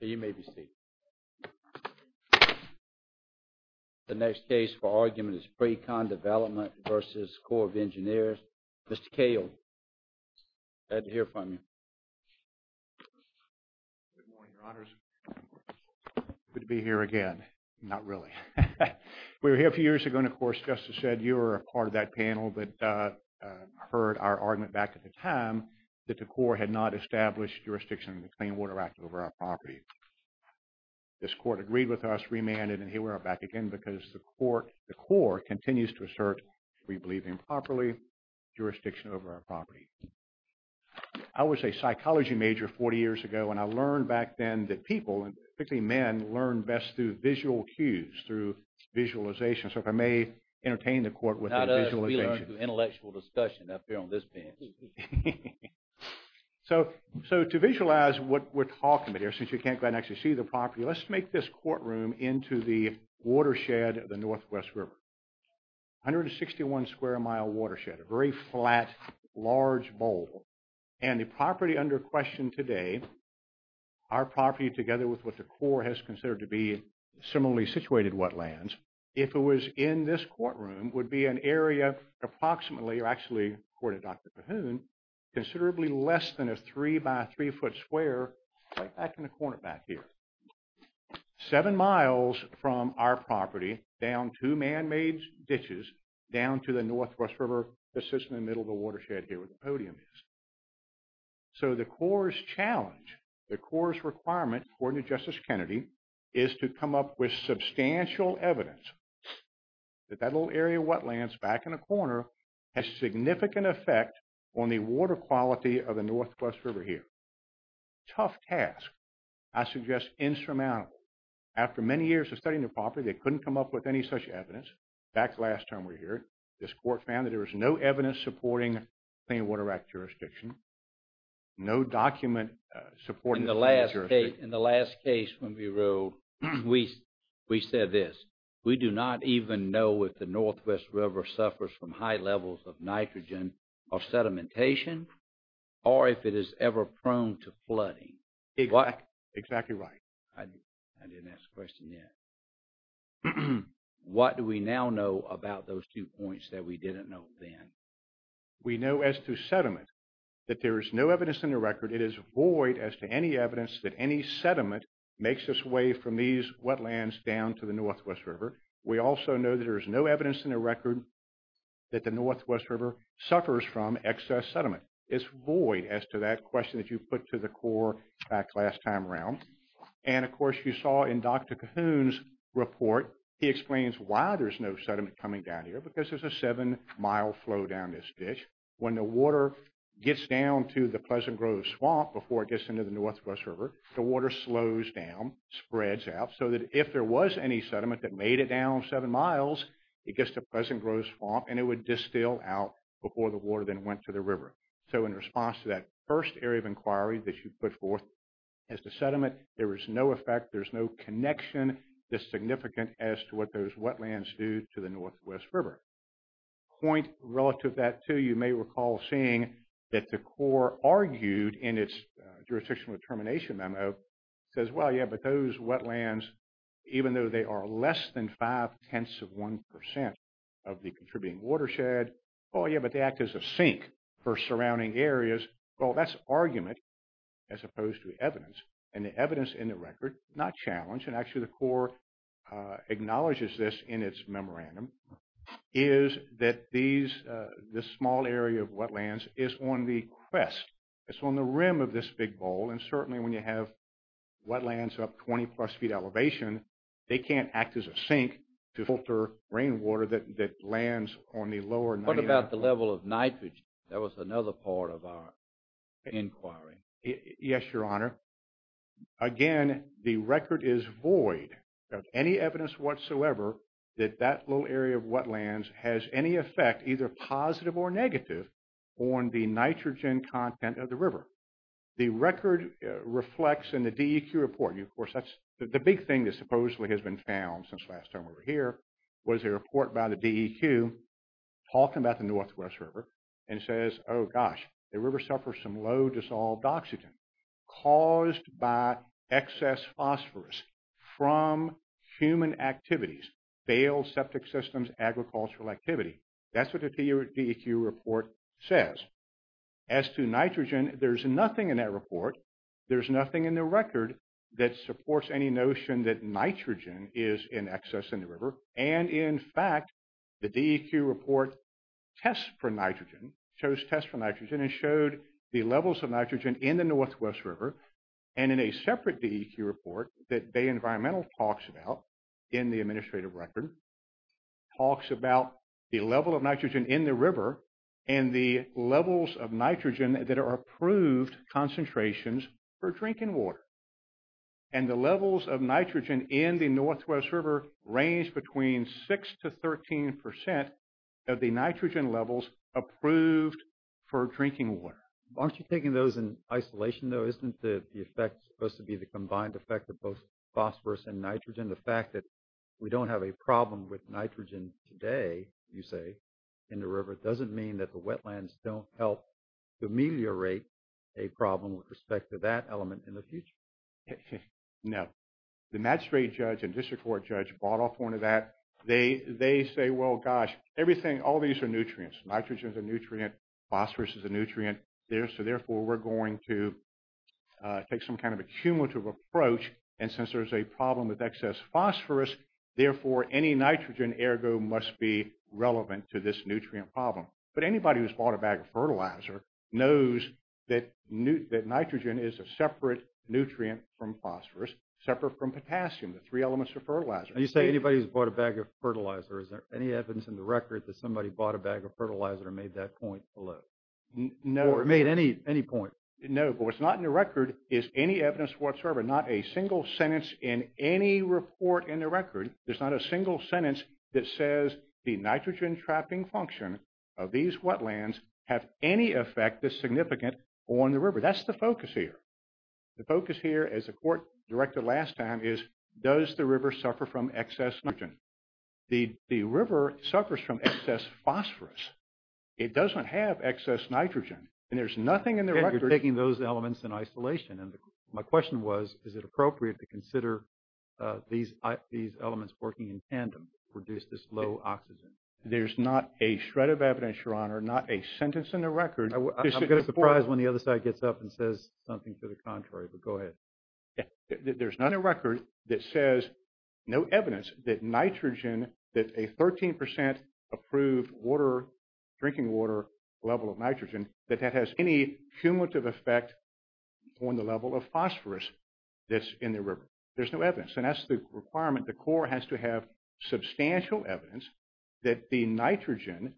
You may be seated. The next case for argument is Precon Development v. Corps of Engineers. Mr. Cale, glad to hear from you. Good morning, Your Honors. Good to be here again. Not really. We were here a few years ago and, of course, Justice said you were a part of that panel that heard our argument back at the time that the Corps had not established jurisdiction in the Clean Water Act over our property. This Court agreed with us, remanded, and here we are back again because the Corps continues to assert we believe improperly jurisdiction over our property. I was a psychology major 40 years ago and I learned back then that people, particularly men, learn best through visual cues, through visualization. So if I may entertain the Court with a visualization. Not us. We learn through intellectual discussion up here on this bench. So to visualize what we're talking about here, since you can't go ahead and actually see the property, let's make this courtroom into the watershed of the Northwest River. 161 square mile watershed. A very flat, large bowl. And the property under question today, our property together with what the Corps has considered to be similarly situated wetlands, if it was in this courtroom, would be an area approximately, or actually, according to Dr. Cahoon, considerably less than a 3 by 3 foot square right back in the corner back here. Seven miles from our property, down two man-made ditches, down to the Northwest River that sits in the middle of the watershed here where the podium is. So the Corps' challenge, the Corps' requirement, according to Justice Kennedy, is to come up with substantial evidence that that little area of wetlands back in the corner has significant effect on the water quality of the Northwest River here. Tough task. I suggest insurmountable. After many years of studying the property, they couldn't come up with any such evidence. Back last time we were here, this court found that there was no evidence supporting clean water act jurisdiction. No document supporting clean water jurisdiction. In the last case, when we wrote, we said this, we do not even know if the Northwest River suffers from high levels of nitrogen or sedimentation, or if it is ever prone to that. What do we now know about those two points that we didn't know then? We know as to sediment, that there is no evidence in the record. It is void as to any evidence that any sediment makes its way from these wetlands down to the Northwest River. We also know that there is no evidence in the record that the Northwest River suffers from excess sediment. It's void as to that question that you put to the report. He explains why there's no sediment coming down here, because there's a seven-mile flow down this ditch. When the water gets down to the Pleasant Grove Swamp before it gets into the Northwest River, the water slows down, spreads out, so that if there was any sediment that made it down seven miles, it gets to Pleasant Grove Swamp and it would distill out before the water then went to the river. So in response to that first area of inquiry that you put forth as to sediment, there is no effect, there's no connection that's significant as to what those wetlands do to the Northwest River. A point relative to that, too, you may recall seeing that the Corps argued in its jurisdictional determination memo, it says, well, yeah, but those wetlands, even though they are less than five-tenths of one percent of the contributing watershed, oh, yeah, but they act as a sink for surrounding areas. Well, that's argument as opposed to evidence. And the evidence in the record, not challenged, and actually the Corps acknowledges this in its memorandum, is that this small area of wetlands is on the crest, it's on the rim of this big bowl, and certainly when you have wetlands up 20-plus feet elevation, they can't act as bowl of nitrogen. That was another part of our inquiry. Yes, Your Honor. Again, the record is void of any evidence whatsoever that that little area of wetlands has any effect, either positive or negative, on the nitrogen content of the river. The record reflects in the DEQ report, and of course that's the big thing that supposedly has been found since last time we were here, was a report by the DEQ talking about the Northwest River and says, oh, gosh, the river suffers from low dissolved oxygen caused by excess phosphorus from human activities, failed septic systems, agricultural activity. That's what the DEQ report says. As to nitrogen, there's nothing in that report, there's nothing in the record that supports any notion that nitrogen is in excess in the river, and in fact, the DEQ report tests for nitrogen, chose tests for nitrogen, and showed the levels of nitrogen in the Northwest River, and in a separate DEQ report that Bay Environmental talks about in the administrative record, talks about the level of nitrogen in the river and the levels of nitrogen that are approved concentrations for drinking water. And the levels of nitrogen in the Northwest River range between 6 to 13 percent of the nitrogen levels approved for drinking water. Aren't you taking those in isolation though? Isn't the effect supposed to be the combined effect of both phosphorus and nitrogen? The fact that we don't have a problem with nitrogen today, you say, in the river, doesn't mean that the wetlands don't help to ameliorate a problem with respect to that element in the future. No. The magistrate judge and district court judge brought up one of that. They say, well, gosh, everything, all these are nutrients. Nitrogen is a nutrient, phosphorus is a nutrient, so therefore we're going to take some kind of a cumulative approach, and since there's a problem with excess phosphorus, therefore any nitrogen ergo must be relevant to this nutrient problem. But anybody who's bought a bag of fertilizer knows that nitrogen is a separate nutrient from phosphorus, separate from potassium, the three elements of fertilizer. And you say anybody who's bought a bag of fertilizer, is there any evidence in the record that somebody bought a bag of fertilizer and made that point below? Or made any point? No, but what's not in the record is any evidence whatsoever, not a single sentence in any report in the record. There's not a single sentence that says the nitrogen trapping function of these wetlands have any effect that's significant on the river. That's the focus here. The focus here, as the court directed last time, is does the river suffer from excess phosphorus? It doesn't have excess nitrogen, and there's nothing in the record. You're taking those elements in isolation, and my question was, is it appropriate to consider these elements working in tandem to produce this low oxygen? There's not a shred of evidence, Your Honor, not a sentence in the record. I'm going to be surprised when the other side gets up and says something to the contrary, but go ahead. There's not a record that says, no evidence that nitrogen, that a 13% approved water, drinking water level of nitrogen, that that has any cumulative effect on the level of phosphorus that's in the river. There's no evidence, and that's the requirement. The court has to have substantial evidence that the nitrogen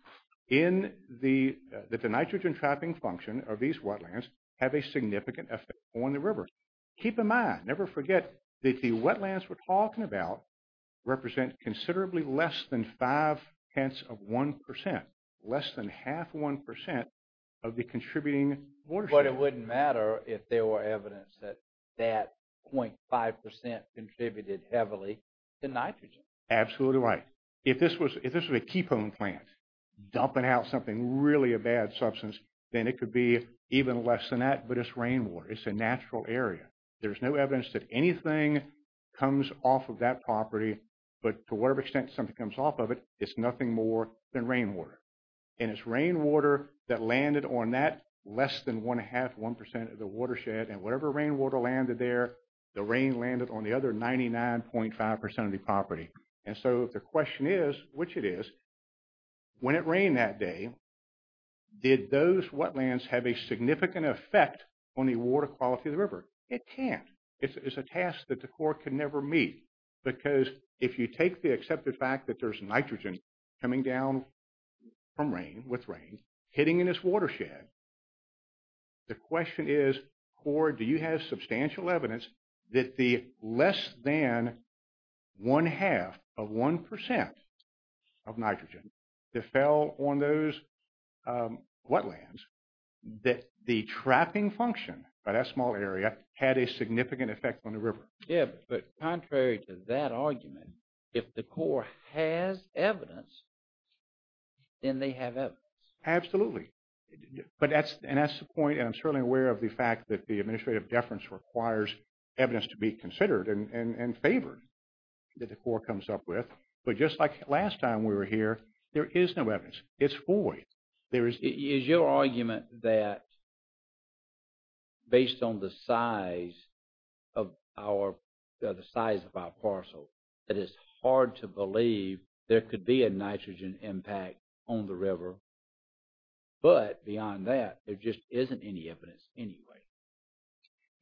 in the, that the nitrogen trapping function of these wetlands have a significant effect on the river. Keep in mind, never forget that the wetlands we're talking about represent considerably less than 5 tenths of 1%, less than half 1% of the contributing water. But it wouldn't matter if there were evidence that that 0.5% contributed heavily to nitrogen. Absolutely right. If this was a keypone plant dumping out something really a bad substance, then it could be even less than that, but it's rainwater. It's a natural area. There's no evidence that anything comes off of that property, but to whatever extent something comes off of it, it's nothing more than rainwater. And it's rainwater that landed on that less than one half 1% of the watershed, and whatever rainwater landed there, the rain landed on the other 99.5% of the property. And so the question is, which it is, when it rained that day, did those wetlands have a significant effect on the water quality of the river? It can't. It's a task that the court can never meet, because if you take the accepted fact that there's nitrogen coming down from rain, with rain, hitting in this watershed, the question is, or do you have substantial evidence that the less than one half of 1% of nitrogen that fell on those wetlands, that the trapping function by that small area had a significant effect on the river? Yeah, but contrary to that argument, if the court has evidence, then they have evidence. Absolutely. And that's the point, and I'm certainly aware of the fact that the administrative deference requires evidence to be considered and favored that the court comes up with. But just like last time we were here, there is no evidence. It's void. Is your argument that based on the size of our parcel, that it's hard to believe there could be a nitrogen impact on the river? But beyond that, there just isn't any evidence anyway.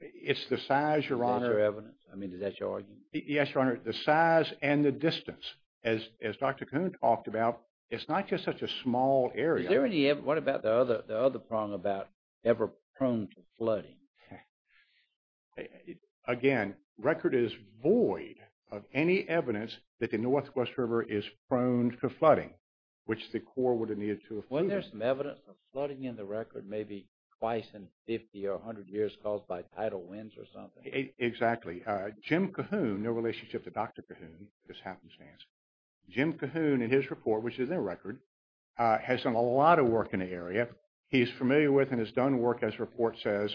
It's the size, Your Honor. Is there evidence? I mean, is that your argument? Yes, Your Honor. The size and the distance. As Dr. Coon talked about, it's not just such a small area. What about the other prong about ever prone to flooding? Wasn't there some evidence of flooding in the record, maybe twice in 50 or 100 years, caused by tidal winds or something? Exactly. Jim Cahoon, no relationship to Dr. Cahoon, Jim Cahoon in his report, which is their record, has done a lot of work in the area. He's familiar with and has done work, as the report says,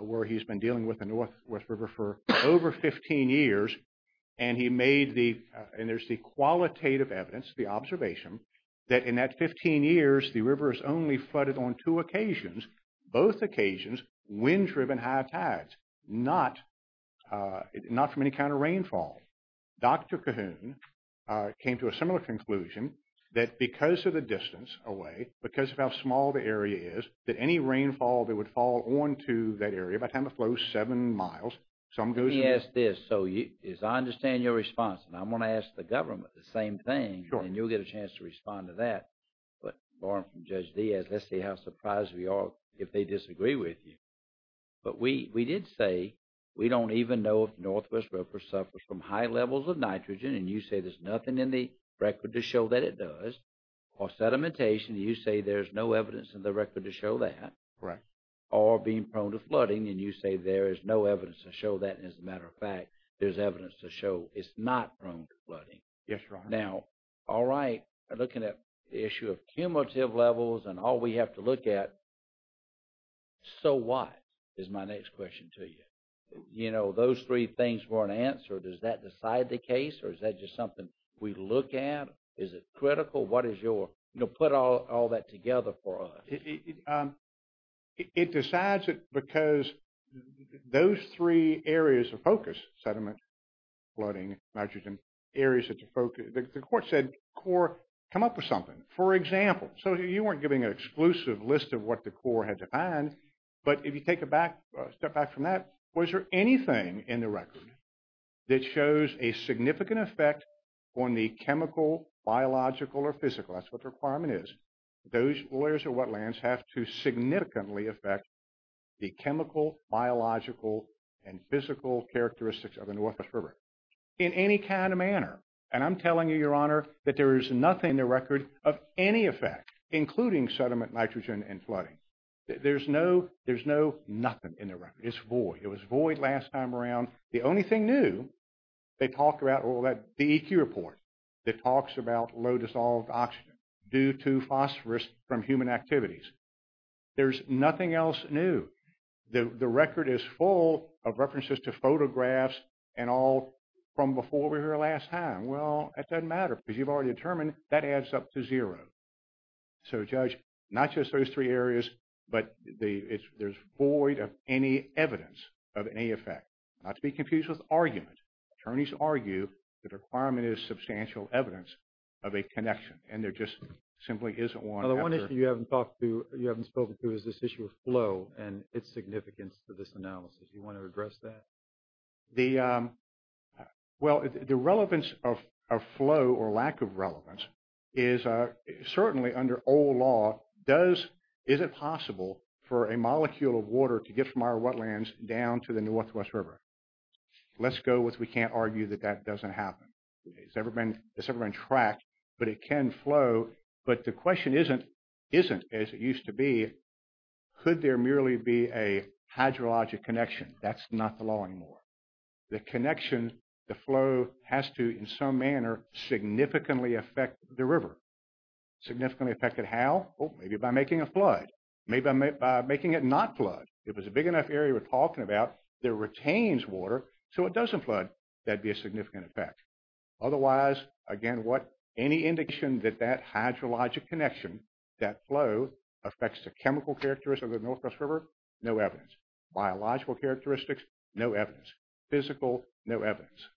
where he's been dealing with the Northwest River for over 15 years. And he made the, and there's the qualitative evidence, the observation, that in that 15 years, the river has only flooded on two occasions, both occasions, wind-driven high tides, not from any kind of rainfall. Dr. Cahoon came to a similar conclusion that because of the distance away, because of how small the area is, that any rainfall that would fall onto that area by the time it flows seven miles, some goes... Let me ask this. So, as I understand your response, and I'm going to ask the government the same thing, and you'll get a chance to respond to that. But barring from Judge Diaz, let's see how surprised we are if they disagree with you. But we did say we don't even know if the Northwest River suffers from high levels of nitrogen, and you say there's nothing in the record to show that it does. Or sedimentation, you say there's no evidence in the record to show that. Or being prone to flooding, and you say there is no evidence to show that. As a matter of fact, there's evidence to show it's not prone to flooding. Now, all right, looking at the issue of cumulative levels and all we have to look at, so what, is my next question to you? You know, those three things weren't answered. Does that decide the case, or is that just something we look at? Is it critical? What is your... You know, put all that together for us. It decides it because those three areas of focus, sediment, flooding, nitrogen, areas that you focus... The court said, CORE, come up with something. For example, so you weren't giving an exclusive list of what the CORE had to find, but if you take a step back from that, was there anything in the record that shows a significant effect on the chemical, biological, or physical? That's what the requirement is. Those layers of wetlands have to significantly affect the chemical, biological, and physical characteristics of the Northwest River. In any kind of manner, and I'm telling you, Your Honor, that there is nothing in the record of any effect, including sediment, nitrogen, and flooding. There's no, there's no nothing in the record. It's void. It was void last time around. The only thing new, they talked about all that, the EQ report that talks about low dissolved oxygen due to phosphorus from human activities. There's nothing else new. The record is full of references to photographs and all from before we were here last time. Well, that doesn't matter because you've already determined that adds up to zero. So, Judge, not just those three areas, but there's void of any evidence of any effect. Not to be confused with argument. Attorneys argue the requirement is substantial evidence of a connection, and there just simply isn't one. Well, the one issue you haven't talked to, you haven't spoken to, is this issue of flow and its significance to this analysis. Do you want to address that? Well, the relevance of flow or lack of relevance is certainly under old law, is it possible for a molecule of water to get from our wetlands down to the Northwest River? Let's go with we can't argue that that doesn't happen. It's never been tracked, but it can flow. But the question isn't, as it used to be, could there merely be a hydrologic connection? That's not the law anymore. The connection, the flow has to, in some manner, significantly affect the river. Significantly affect it how? Maybe by making a flood. Maybe by making it not flood. If it's a big enough area we're talking about that retains water so it doesn't flood, that'd be a significant effect. Otherwise, again, any indication that that hydrologic connection, that flow, affects the chemical characteristics of the Northwest River? No evidence. Biological characteristics? No evidence. Physical? No evidence.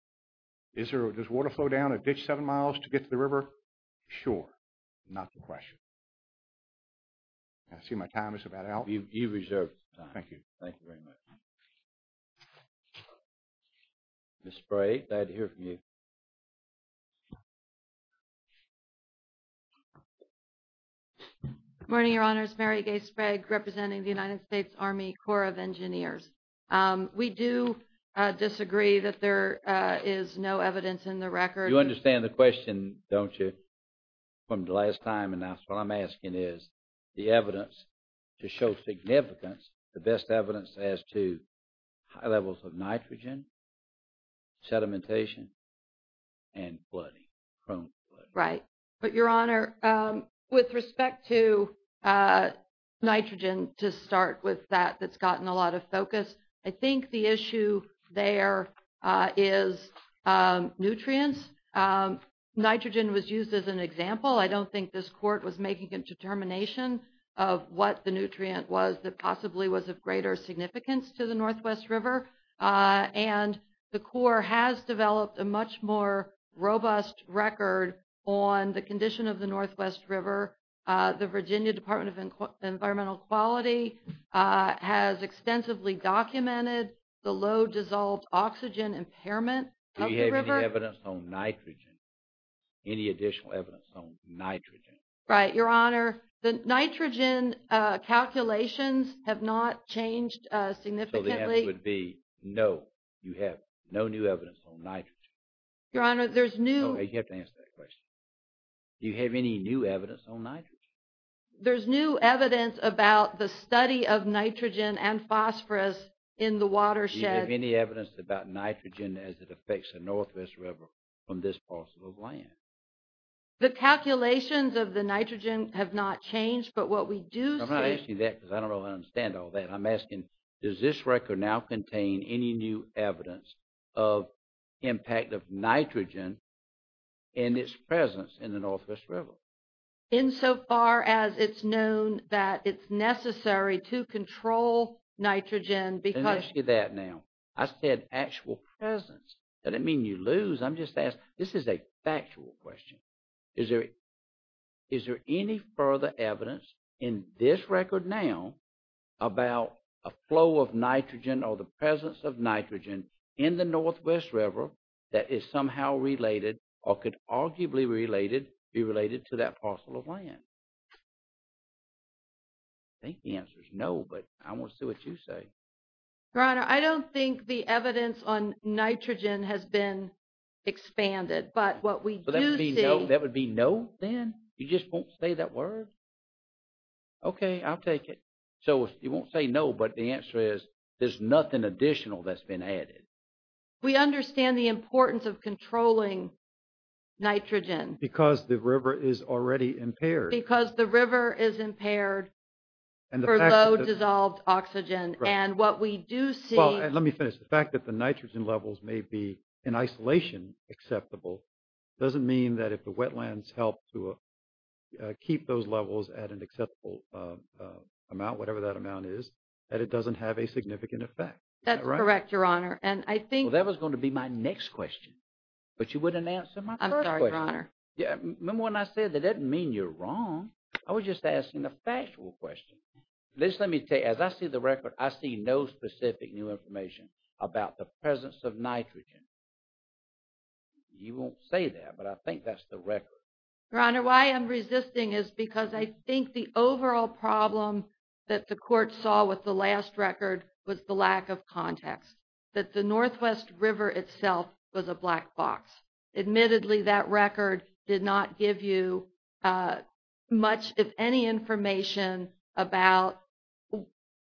Does water flow down a ditch seven miles to get to the river? Sure. Not the question. I see my time is about out. You've reserved time. Thank you. Thank you very much. Ms. Sprague, I'd hear from you. Good morning, Your Honors. Mary Gay Sprague, representing the United States Army Corps of Engineers. We do disagree that there is no evidence in the record. You understand the question, don't you, from the last time announced? What I'm asking is the evidence to show significance, the best evidence as to high levels of nitrogen, sedimentation, and flooding, prone flooding. Right. But Your Honor, with respect to nitrogen, to start with that, that's gotten a lot of focus. I think the issue there is nutrients. Nitrogen was used as an example. I don't think this court was making a determination of what the nutrient was that possibly was of greater significance to the Northwest River. And the Corps has developed a much more robust record on the condition of the Northwest River. The Virginia Department of Environmental Quality has extensively documented the low dissolved oxygen impairment of the river. Do you have any evidence on nitrogen, any additional evidence on nitrogen? Right. Your Honor, the nitrogen calculations have not changed significantly. So the answer would be no, you have no new evidence on nitrogen. Your Honor, there's new. You have to answer that question. Do you have any new evidence on nitrogen? There's new evidence about the study of nitrogen and phosphorus in the watershed. Do you have any evidence about nitrogen as it affects the Northwest River from this parcel of land? The calculations of the nitrogen have not changed, but what we do see. I'm not asking that because I don't really understand all that. I'm asking, does this record now contain any new evidence of impact of nitrogen and its presence in the Northwest River? Insofar as it's known that it's necessary to control nitrogen because... Let me ask you that now. I said actual presence. I didn't mean you lose. I'm just asking. This is a factual question. Is there any further evidence in this record now about a flow of nitrogen or the presence of nitrogen in the Northwest River that is somehow related or could arguably be related to that parcel of land? I think the answer is no, but I want to see what you say. Your Honor, I don't think the evidence on nitrogen has been explored. Okay, I'll take it. So you won't say no, but the answer is there's nothing additional that's been added. We understand the importance of controlling nitrogen. Because the river is already impaired. Because the river is impaired for low dissolved oxygen. And what we do see... Let me finish. The fact that the nitrogen levels may be in isolation acceptable doesn't mean that if the wetlands help to keep those levels at an acceptable amount, whatever that amount is, that it doesn't have a significant effect. That's correct, Your Honor. And I think... Well, that was going to be my next question. But you wouldn't answer my first question. I'm sorry, Your Honor. Remember when I said that doesn't mean you're wrong. I was just asking a factual question. Just let me tell you, as I see the record, I see no specific new information about the presence of nitrogen. You won't say that, but I think that's the record. Your Honor, why I'm resisting is because I think the overall problem that the court saw with the last record was the lack of context. That the Northwest River itself was a black box. Admittedly, that record did not give you much, if any, information about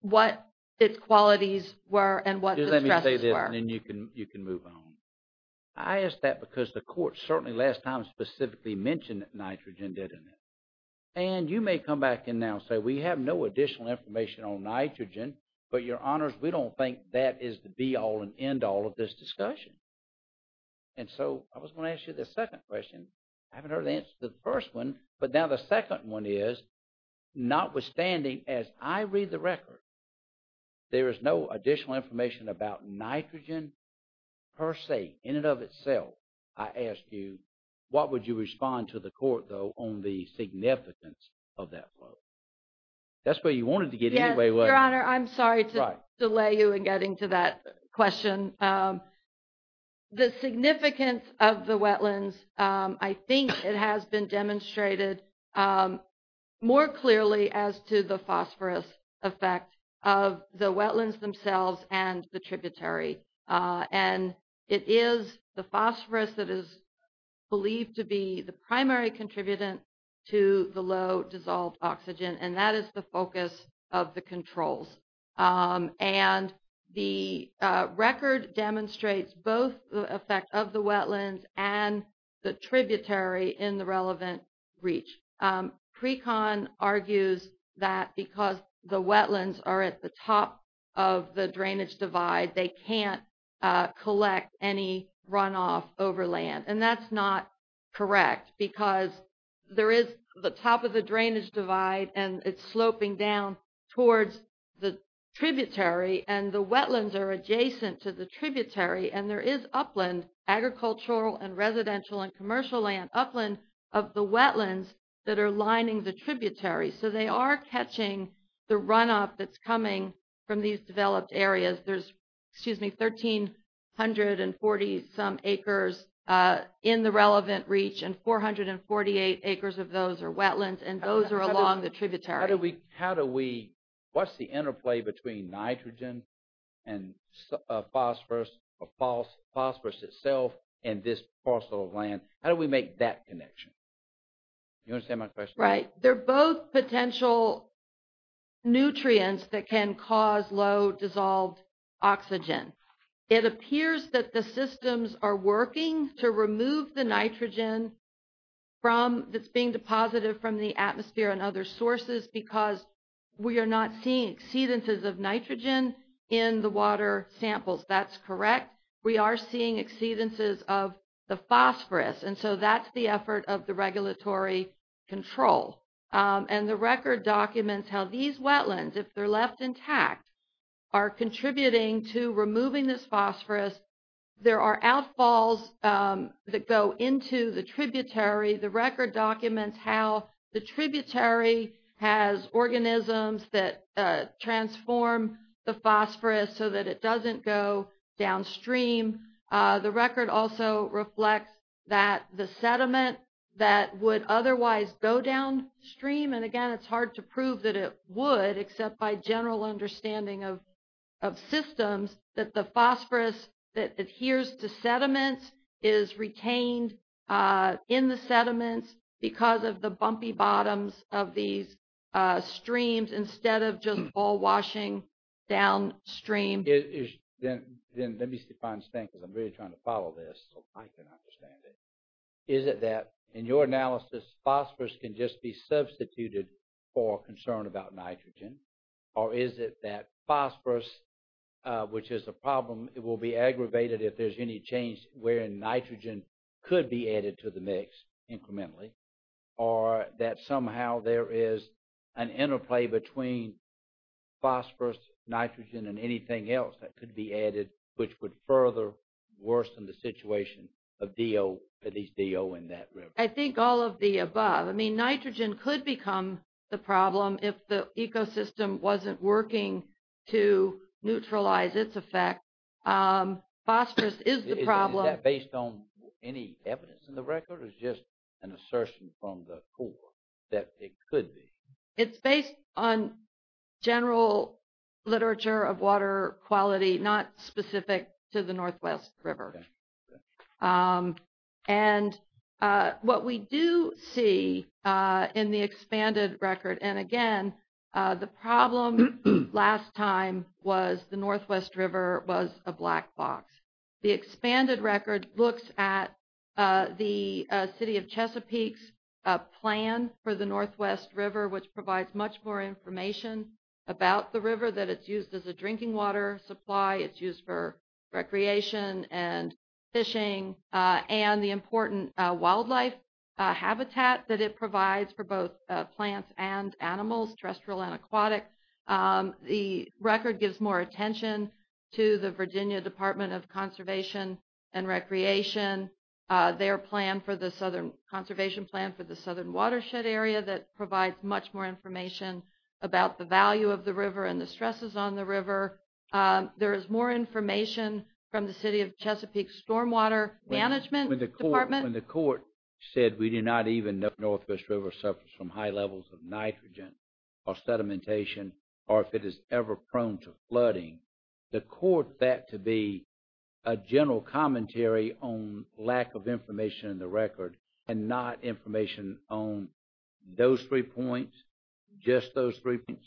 what its qualities were and what the stresses were. Just let me say this and then you can move on. I ask that because the court certainly last time specifically mentioned nitrogen, didn't it? And you may come back and now say, we have no additional information on nitrogen, but Your Honors, we don't think that is the be-all and end-all of this discussion. And so I was going to ask you the second question. I haven't heard the answer to the first one, but now the second one is, notwithstanding as I read the record, there is no additional information about nitrogen per se, in and of itself. I ask you, what would you respond to the court, though, on the significance of that quote? That's where you wanted to get anyway, wasn't it? Yes, Your Honor, I'm sorry to delay you in getting to that question. The significance of the wetlands, I think it has been demonstrated more clearly as to the phosphorus effect of the wetlands themselves and the tributary. And it is the phosphorus that is believed to be the primary contributor to the low dissolved oxygen, and that is the focus of the controls. And the record demonstrates both the effect of the wetlands and the tributary in the relevant reach. PRECON argues that because the wetlands are at the top of the drainage divide, they can't collect any runoff over land. And that's not correct, because there is the top of the drainage divide, and it's sloping down towards the tributary, and the wetlands are adjacent to the tributary, and there is upland, agricultural and residential and commercial land upland of the wetlands that are lining the tributary. So they are catching the runoff that's coming from these developed areas. There's, excuse me, 1,340 some acres in the relevant reach, and 448 acres of those are wetlands, and those are along the tributary. What's the interplay between nitrogen and phosphorus itself and this parcel of land? How do we make that connection? You understand my question? Right. They're both potential nutrients that can cause low dissolved oxygen. It appears that the systems are working to remove the nitrogen that's being deposited from the atmosphere and other sources because we are not seeing exceedances of nitrogen in the water samples. That's correct. We are seeing exceedances of the phosphorus, and so that's the effort of the regulatory control. And the record documents how these wetlands, if they're left intact, are contributing to removing this phosphorus. There are outfalls that go into the tributary. The record documents how the tributary has organisms that transform the phosphorus so that it doesn't go downstream. And again, it's hard to prove that it would, except by general understanding of systems, that the phosphorus that adheres to sediments is retained in the sediments because of the bumpy bottoms of these streams instead of just ball washing downstream. Then let me see if I understand, because I'm really trying to follow this so I can understand it. Is it that, in your analysis, phosphorus can just be substituted for concern about nitrogen? Or is it that phosphorus, which is a problem, it will be aggravated if there's any change wherein nitrogen could be added to the mix incrementally? Or that somehow there is an interplay between phosphorus, nitrogen, and anything else that could be added, which would further worsen the situation of DO, at least DO in that river? I think all of the above. I mean, nitrogen could become the problem if the ecosystem wasn't working to neutralize its effect. Phosphorus is the problem. Is that based on any It's based on general literature of water quality, not specific to the Northwest River. And what we do see in the expanded record, and again, the problem last time was the Northwest River was a black box. The expanded record looks at the City of Chesapeake's plan for the Northwest River, which provides much more information about the river, that it's used as a drinking water supply, it's used for recreation and fishing, and the important wildlife habitat that it provides for both plants and animals, terrestrial and aquatic. The record gives more attention to the Virginia Department of Conservation and Recreation, their conservation plan for the southern watershed area that provides much more information about the value of the river and the stresses on the river. There is more information from the City of Chesapeake's stormwater management department. When the court said we do not even know the Northwest River suffers from high levels of nitrogen or sedimentation, or if it is ever prone to flooding, the court had to be a general commentary on lack of information in the record and not information on those three points, just those three points.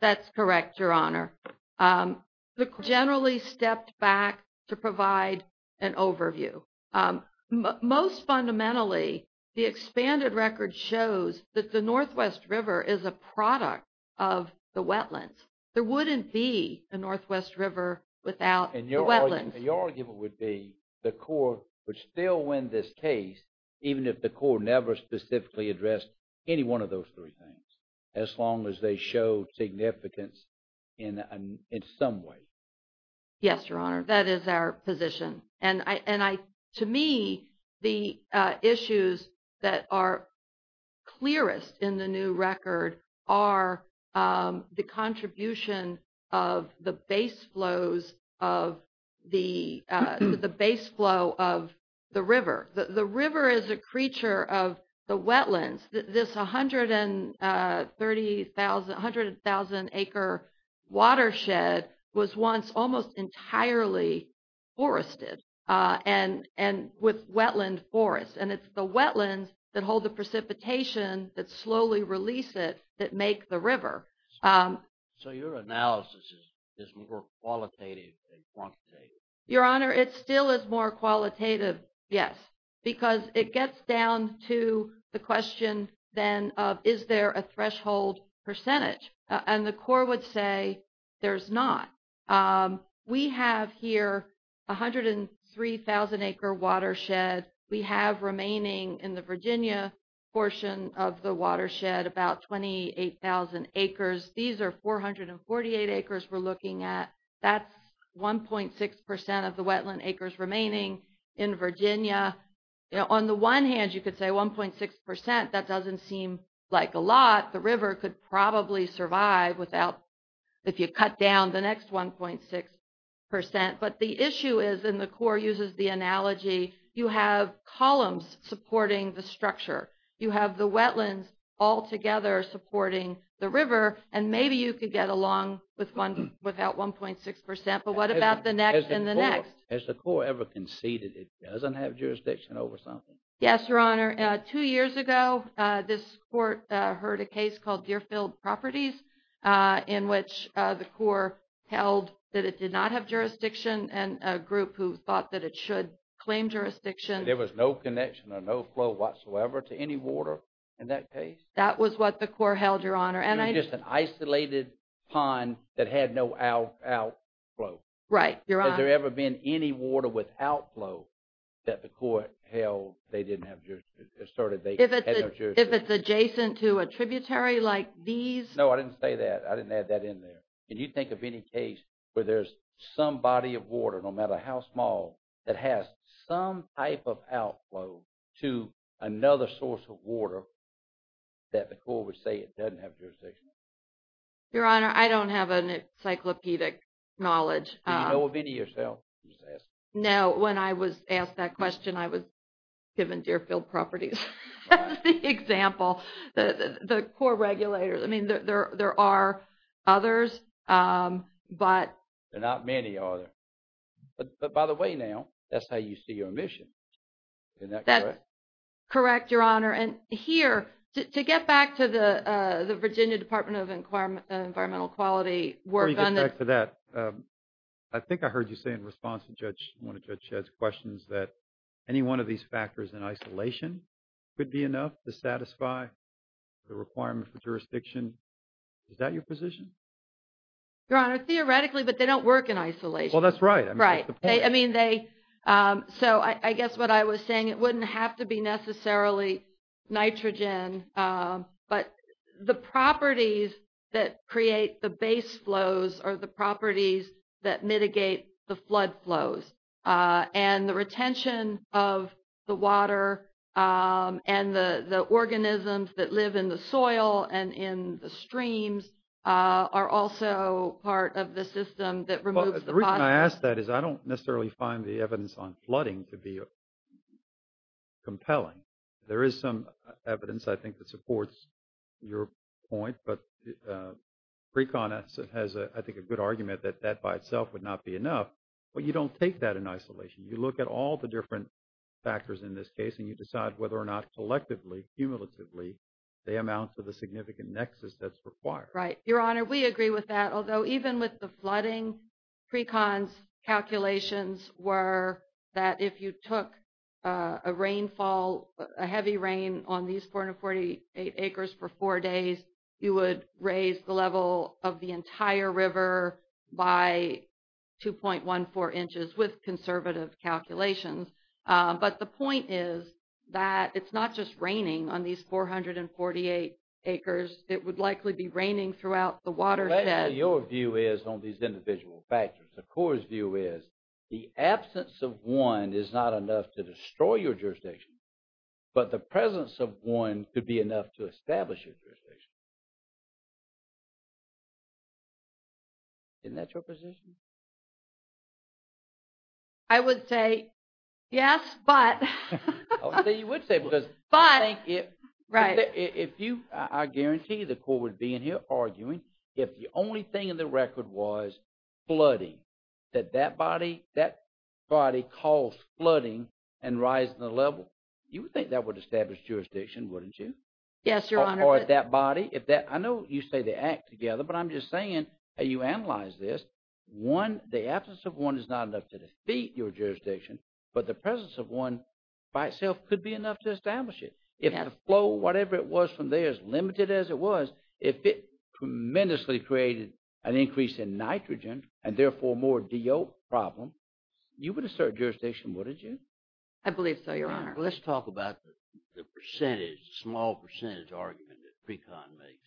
That's correct, Your Honor. The court generally stepped back to provide an overview. Most fundamentally, the expanded record shows that the Northwest River is a product of the wetlands. There wouldn't be the Northwest River without the wetlands. And your argument would be the court would still win this case even if the court never specifically addressed any one of those three things, as long as they show significance in some way. Yes, Your Honor, that is our position. To me, the issues that are clearest in the new record are the contribution of the base flows of the river. The river is a creature of the wetlands. This 130,000 acre watershed was once almost entirely forested and with wetland forests. And it's the wetlands that hold the precipitation that slowly release it that make the river. So your analysis is more qualitative than quantitative. Your Honor, it still is more question than is there a threshold percentage. And the court would say there's not. We have here 103,000 acre watershed. We have remaining in the Virginia portion of the watershed about 28,000 acres. These are 448 acres we're looking at. That's 1.6% of the wetland acres remaining in Virginia. On the one hand, you could say 1.6%. That doesn't seem like a lot. The river could probably survive without if you cut down the next 1.6%. But the issue is, and the court uses the analogy, you have columns supporting the structure. You have the wetlands all together supporting the river. And maybe you could get along without 1.6%. But what about the next and the next? Has the court ever conceded it doesn't have jurisdiction over something? Yes, Your Honor. Two years ago this court heard a case called Deerfield Properties in which the court held that it did not have jurisdiction and a group who thought that it should claim jurisdiction. There was no connection or no flow whatsoever to any water in that case? That was what the court held, Your Honor. It was just an isolated pond that had no outflow. Right, Your Honor. Has there ever been any water without flow that the court held they didn't have jurisdiction? If it's adjacent to a tributary like these? No, I didn't say that. I didn't add that in there. Can you think of any case where there's some body of water, no matter how small, that has some type of outflow to another source of water that the court would say it doesn't have jurisdiction over? Your Honor, I don't have an encyclopedic knowledge. Do you know of any yourself? No. When I was asked that question I was given Deerfield Properties as the example. The core regulators. I mean there are others but... There are not many, are there? But by the way now, that's how you see your emission. Isn't that correct? That's correct, Your Honor. And here, to get back to the Virginia Department of Environmental Quality work on this... Before you get back to that, I think I heard you say in response to Judge, one of Judge Shedd's questions that any one of these factors in isolation could be enough to satisfy the requirement for jurisdiction. Is that your position? Your Honor, theoretically, but they don't work in isolation. Well, that's right. So, I guess what I was saying, it wouldn't have to be necessarily nitrogen, but the properties that create the base flows are the properties that mitigate the flood flows. And the organisms that live in the soil and in the streams are also part of the system that removes the... The reason I ask that is I don't necessarily find the evidence on flooding to be compelling. There is some evidence, I think, that supports your point. But Precon has, I think, a good argument that that by itself would not be enough. But you don't take that in isolation. You look at all the different factors in this case and you decide whether or not collectively, cumulatively, they amount to the significant nexus that's required. Right. Your Honor, we agree with that. Although even with the flooding, Precon's calculations were that if you took a rainfall, a heavy rain on these 448 acres for four days, you would raise the level of the entire river by 2.14 inches with conservative calculations. But the point is that it's not just raining on these 448 acres. It would likely be raining throughout the watershed. Your view is on these individual factors. The Court's view is the absence of one is not enough to destroy your jurisdiction, but the presence of one could be enough to establish your jurisdiction. Isn't that your position? I would say yes, but. I would say you would say because I think if you, I guarantee the Court would be in here arguing if the only thing in the record was flooding, that that body calls flooding and rising the level. You would think that would establish jurisdiction, wouldn't you? Yes, Your Honor. Or that body. I know you say they act together, but I'm just saying you analyze this. One, the absence of one is not enough to defeat your jurisdiction, but the presence of one by itself could be enough to establish it. If the flow, whatever it was from there, as limited as it was, if it tremendously created an increase in nitrogen and therefore more DO problem, you would assert jurisdiction, wouldn't you? I believe so, Your Honor. Let's talk about the percentage, small percentage argument that Precon makes.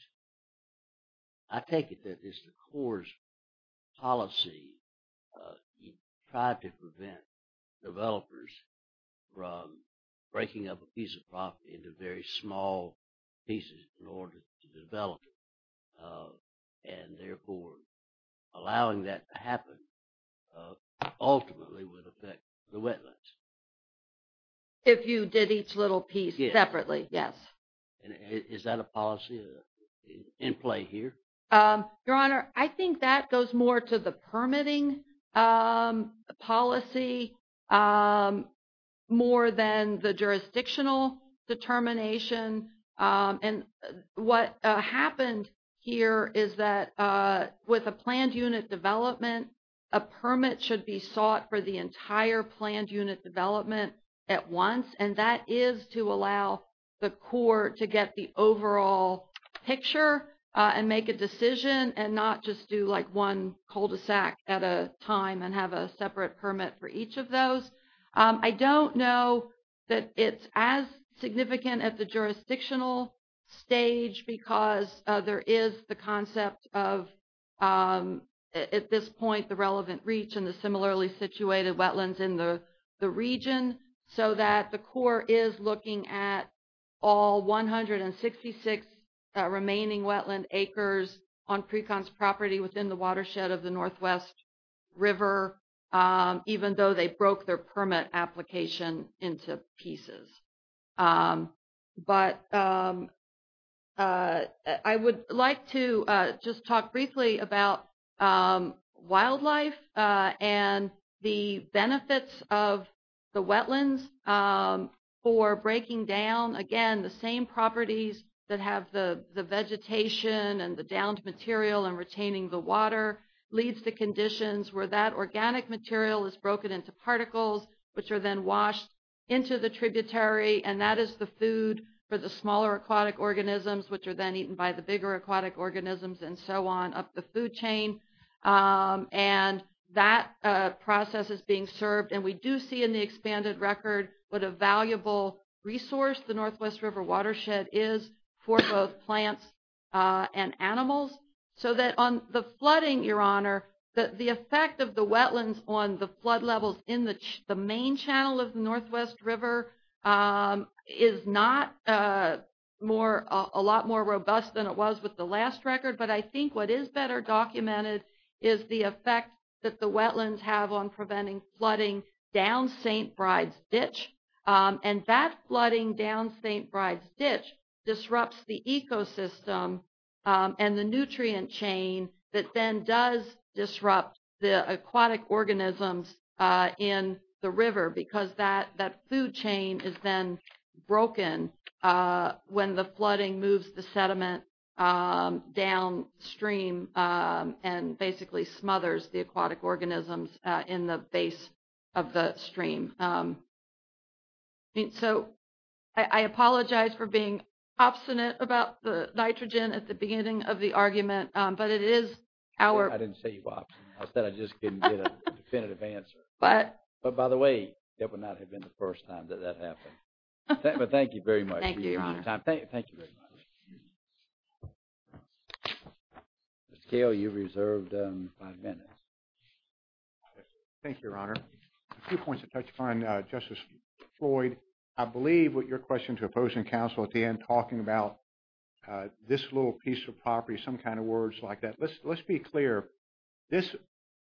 I take it that this is the Court's policy. You try to prevent developers from breaking up a piece of property into very small pieces in order to develop it, and therefore allowing that to happen ultimately would affect the wetlands. If you did each little piece separately, yes. Is that a policy in play here? Your Honor, I think that goes more to the permitting policy more than the jurisdictional determination. What happened here is that with a planned unit development, a permit should be sought for the entire planned unit development at once, and that is to allow the Court to get the overall picture and make a decision and not just do one cul-de-sac at a time and have a separate permit for each of those. I don't know that it's as significant at the jurisdictional stage because there is the concept of at this point the relevant reach and the similarly situated wetlands in the region, so that the Court is looking at all 166 remaining wetland acres on Precons property within the watershed of the Northwest River, even though they broke their permit application into pieces. I would like to just talk briefly about wildlife and the benefits of the wetlands for breaking down, again, the same properties that have the vegetation and the downed material and retaining the water leads to conditions where that organic material is broken into particles, which are then washed into the tributary, and that is the food for the smaller aquatic organisms, which are then eaten by the bigger aquatic organisms and so on up the food chain. That process is being served, and we do see in the expanded record what a valuable resource the Northwest River watershed is for both plants and animals. The effect of the wetlands on the flood levels in the main channel of the Northwest River is not a lot more robust than it was with the last record, but I think what is better documented is the effect that the wetlands have on preventing flooding down St. Bride's Ditch, and that flooding down St. Bride's Ditch disrupts the ecosystem and the nutrient chain that then does disrupt the aquatic organisms in the river, because that food chain is then broken when the flooding moves the sediment downstream and basically smothers the aquatic organisms in the base of the stream. So I apologize for being obstinate about the nitrogen at the beginning of the argument, but it is our... I didn't say you were obstinate. I said I just couldn't get a definitive answer. But by the way, that would not have been the first time that that happened. But thank you very much. Thank you, Your Honor. Thank you very much. Ms. Gail, you reserved five minutes. Thank you, Your Honor. A few points to touch upon, Justice Floyd. I believe what your question to opposing counsel at the end, talking about this little piece of property, some kind of words like that. Let's be clear. This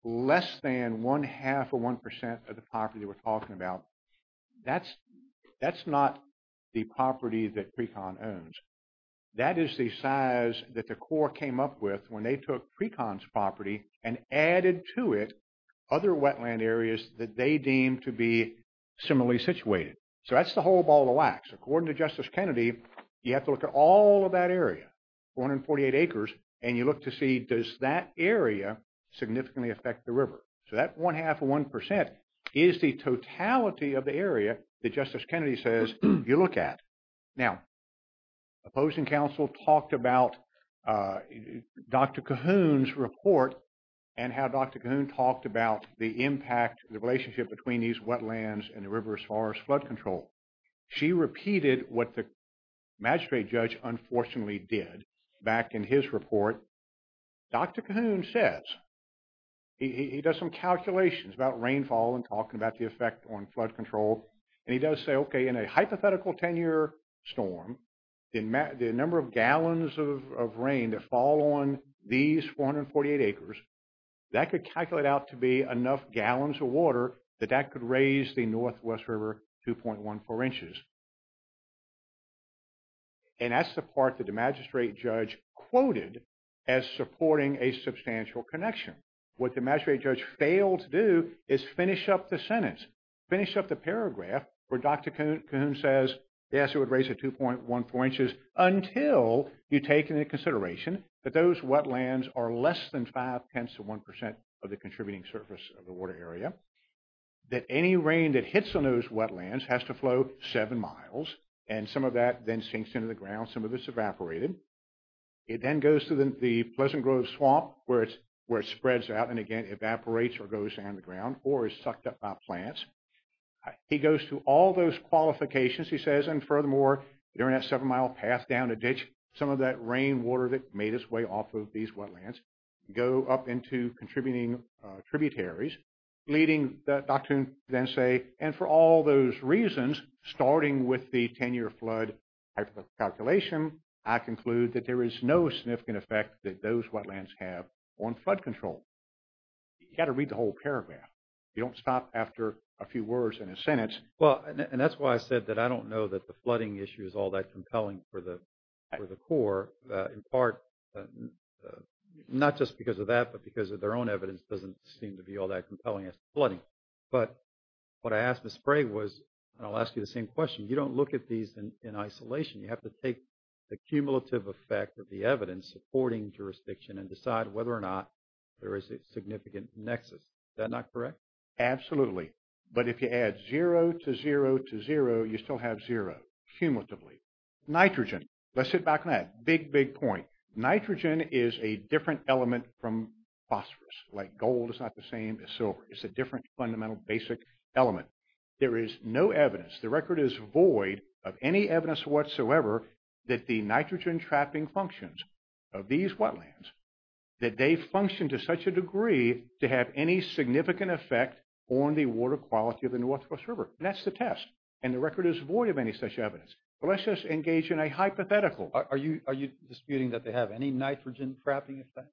less than one-half or one percent of the property we're talking about, that's not the property that PRECON owns. That is the size that the court came up with when they took PRECON's property and added to it other wetland areas that they deemed to be similarly situated. So that's the whole ball of wax. According to Justice Kennedy, you have to look at all of that area, 148 acres, and you look to see, does that area significantly affect the river? So that one-half or one percent is the totality of the area that Justice Kennedy says you look at. Now, opposing counsel talked about Dr. Cahoon's calculations about rainfall and talking about the effect on flood control. She repeated what the magistrate judge unfortunately did back in his report. Dr. Cahoon says, he does some calculations about rainfall and talking about the effect on flood control. And he does say, okay, in a hypothetical 10-year storm, the number of gallons of rain that fall on these areas, that could raise the Northwest River 2.14 inches. And that's the part that the magistrate judge quoted as supporting a substantial connection. What the magistrate judge failed to do is finish up the sentence, finish up the paragraph where Dr. Cahoon says, yes, it would raise it 2.14 inches until you take into consideration that those wetlands are less than five-tenths of one percent of the contributing surface of the water area. That any rain that hits on those wetlands has to flow seven miles. And some of that then sinks into the ground. Some of it's evaporated. It then goes to the Pleasant Grove Swamp where it spreads out and again evaporates or goes down the ground or is sucked up by plants. He goes through all those qualifications, he says, and furthermore, during that seven-mile path down a ditch, some of that rainwater that made its way off of these wetlands go up into contributing tributaries, leading Dr. Cahoon to then say, and for all those reasons, starting with the 10-year flood type of calculation, I conclude that there is no significant effect that those wetlands have on flood control. You've got to read the whole paragraph. You don't stop after a few words and a sentence. Well, and that's why I said that I don't know that the flooding issue is all that compelling for the Corps. In part, not just because of that, but because of their own evidence doesn't seem to be all that compelling as to flooding. But what I asked Ms. Sprague was, and I'll ask you the same question, you don't look at these in isolation. You have to take the cumulative effect of the evidence supporting jurisdiction and decide whether or not there is a significant nexus. Is that not correct? Absolutely. But if you add zero to zero to zero, you still have zero, cumulatively. Nitrogen. Let's sit back on that. Big, big point. Nitrogen is a different element from phosphorus. Like gold is not the same as silver. It's a different fundamental basic element. There is no evidence, the record is void of any evidence whatsoever that the nitrogen trapping functions of these wetlands, that they function to such a degree to have any significant effect on the water quality of the Northwest River. That's the test. And the record is void of any such evidence. But let's just engage in a hypothetical. Are you disputing that they have any nitrogen trapping effect?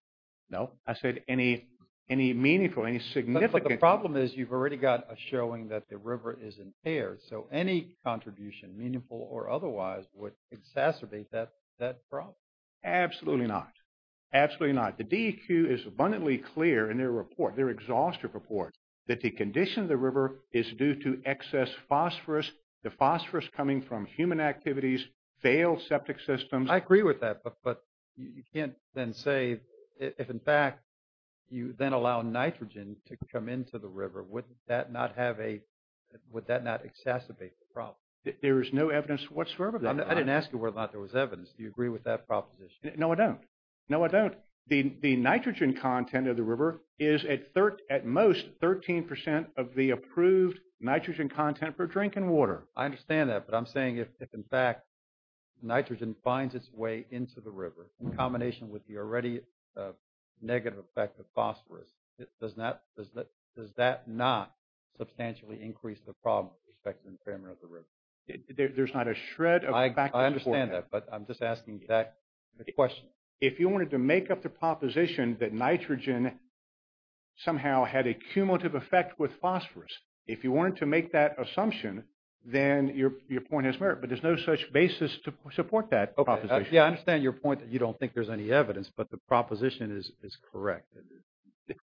No. I said any meaningful, any significant. But the problem is you've already got a showing that the river is impaired. So any contribution, meaningful or otherwise, would exacerbate that problem. Absolutely not. Absolutely not. The DEQ is abundantly clear in their report, their exhaustive report, that the condition of the river is due to excess phosphorus, the phosphorus coming from human activities, failed septic systems. I agree with that. But you can't then say if, in fact, you then allow nitrogen to come into the river, would that not have a, would that not exacerbate the problem? There is no evidence whatsoever. I didn't ask you whether or not there was evidence. Do you agree with that proposition? No, I don't. No, I don't. The nitrogen content of the river is at most 13 percent of the approved nitrogen content for drinking water. I understand that. But I'm saying if, in fact, nitrogen finds its way into the river in combination with the already negative effect of phosphorus, does that not substantially increase the problem with respect to the impairment of the river? There's not a shred of... I understand that. But I'm just asking that question. If you wanted to make up the proposition that nitrogen somehow had a cumulative effect with phosphorus, if you wanted to make that assumption, then your point has merit. But there's no such basis to support that proposition. Yeah, I understand your point that you don't think there's any evidence, but the proposition is correct.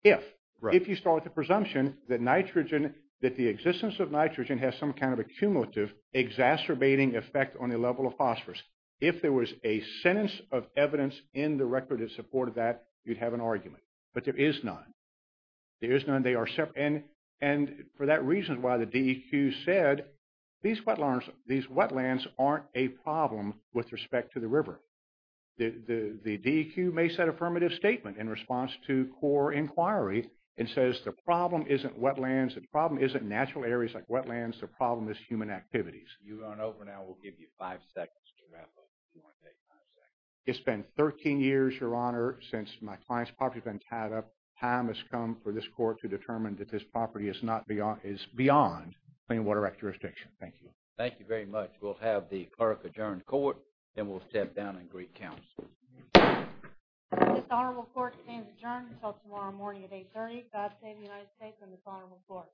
If you start with the presumption that nitrogen, that the existence of nitrogen has some kind of accumulative, exacerbating effect on the level of phosphorus, if there was a sentence of evidence in the record that supported that, you'd have an argument. But there is none. There is none. They are separate. And for that reason is why the DEQ said these wetlands aren't a problem with respect to the river. The DEQ makes that affirmative statement in response to CORE inquiry and says the problem isn't wetlands, the problem isn't natural areas like wetlands, the problem is human activities. You run over now. We'll give you five seconds to wrap up if you want to take five seconds. It's been 13 years, Your Honor, since my client's property has been tied up. Time has come for this court to determine that this property is beyond clean water act jurisdiction. Thank you. Thank you very much. We'll have the clerk adjourn the court. Then we'll step down and greet counsel. This honorable court remains adjourned until tomorrow morning at 830. God save the United States and this honorable court.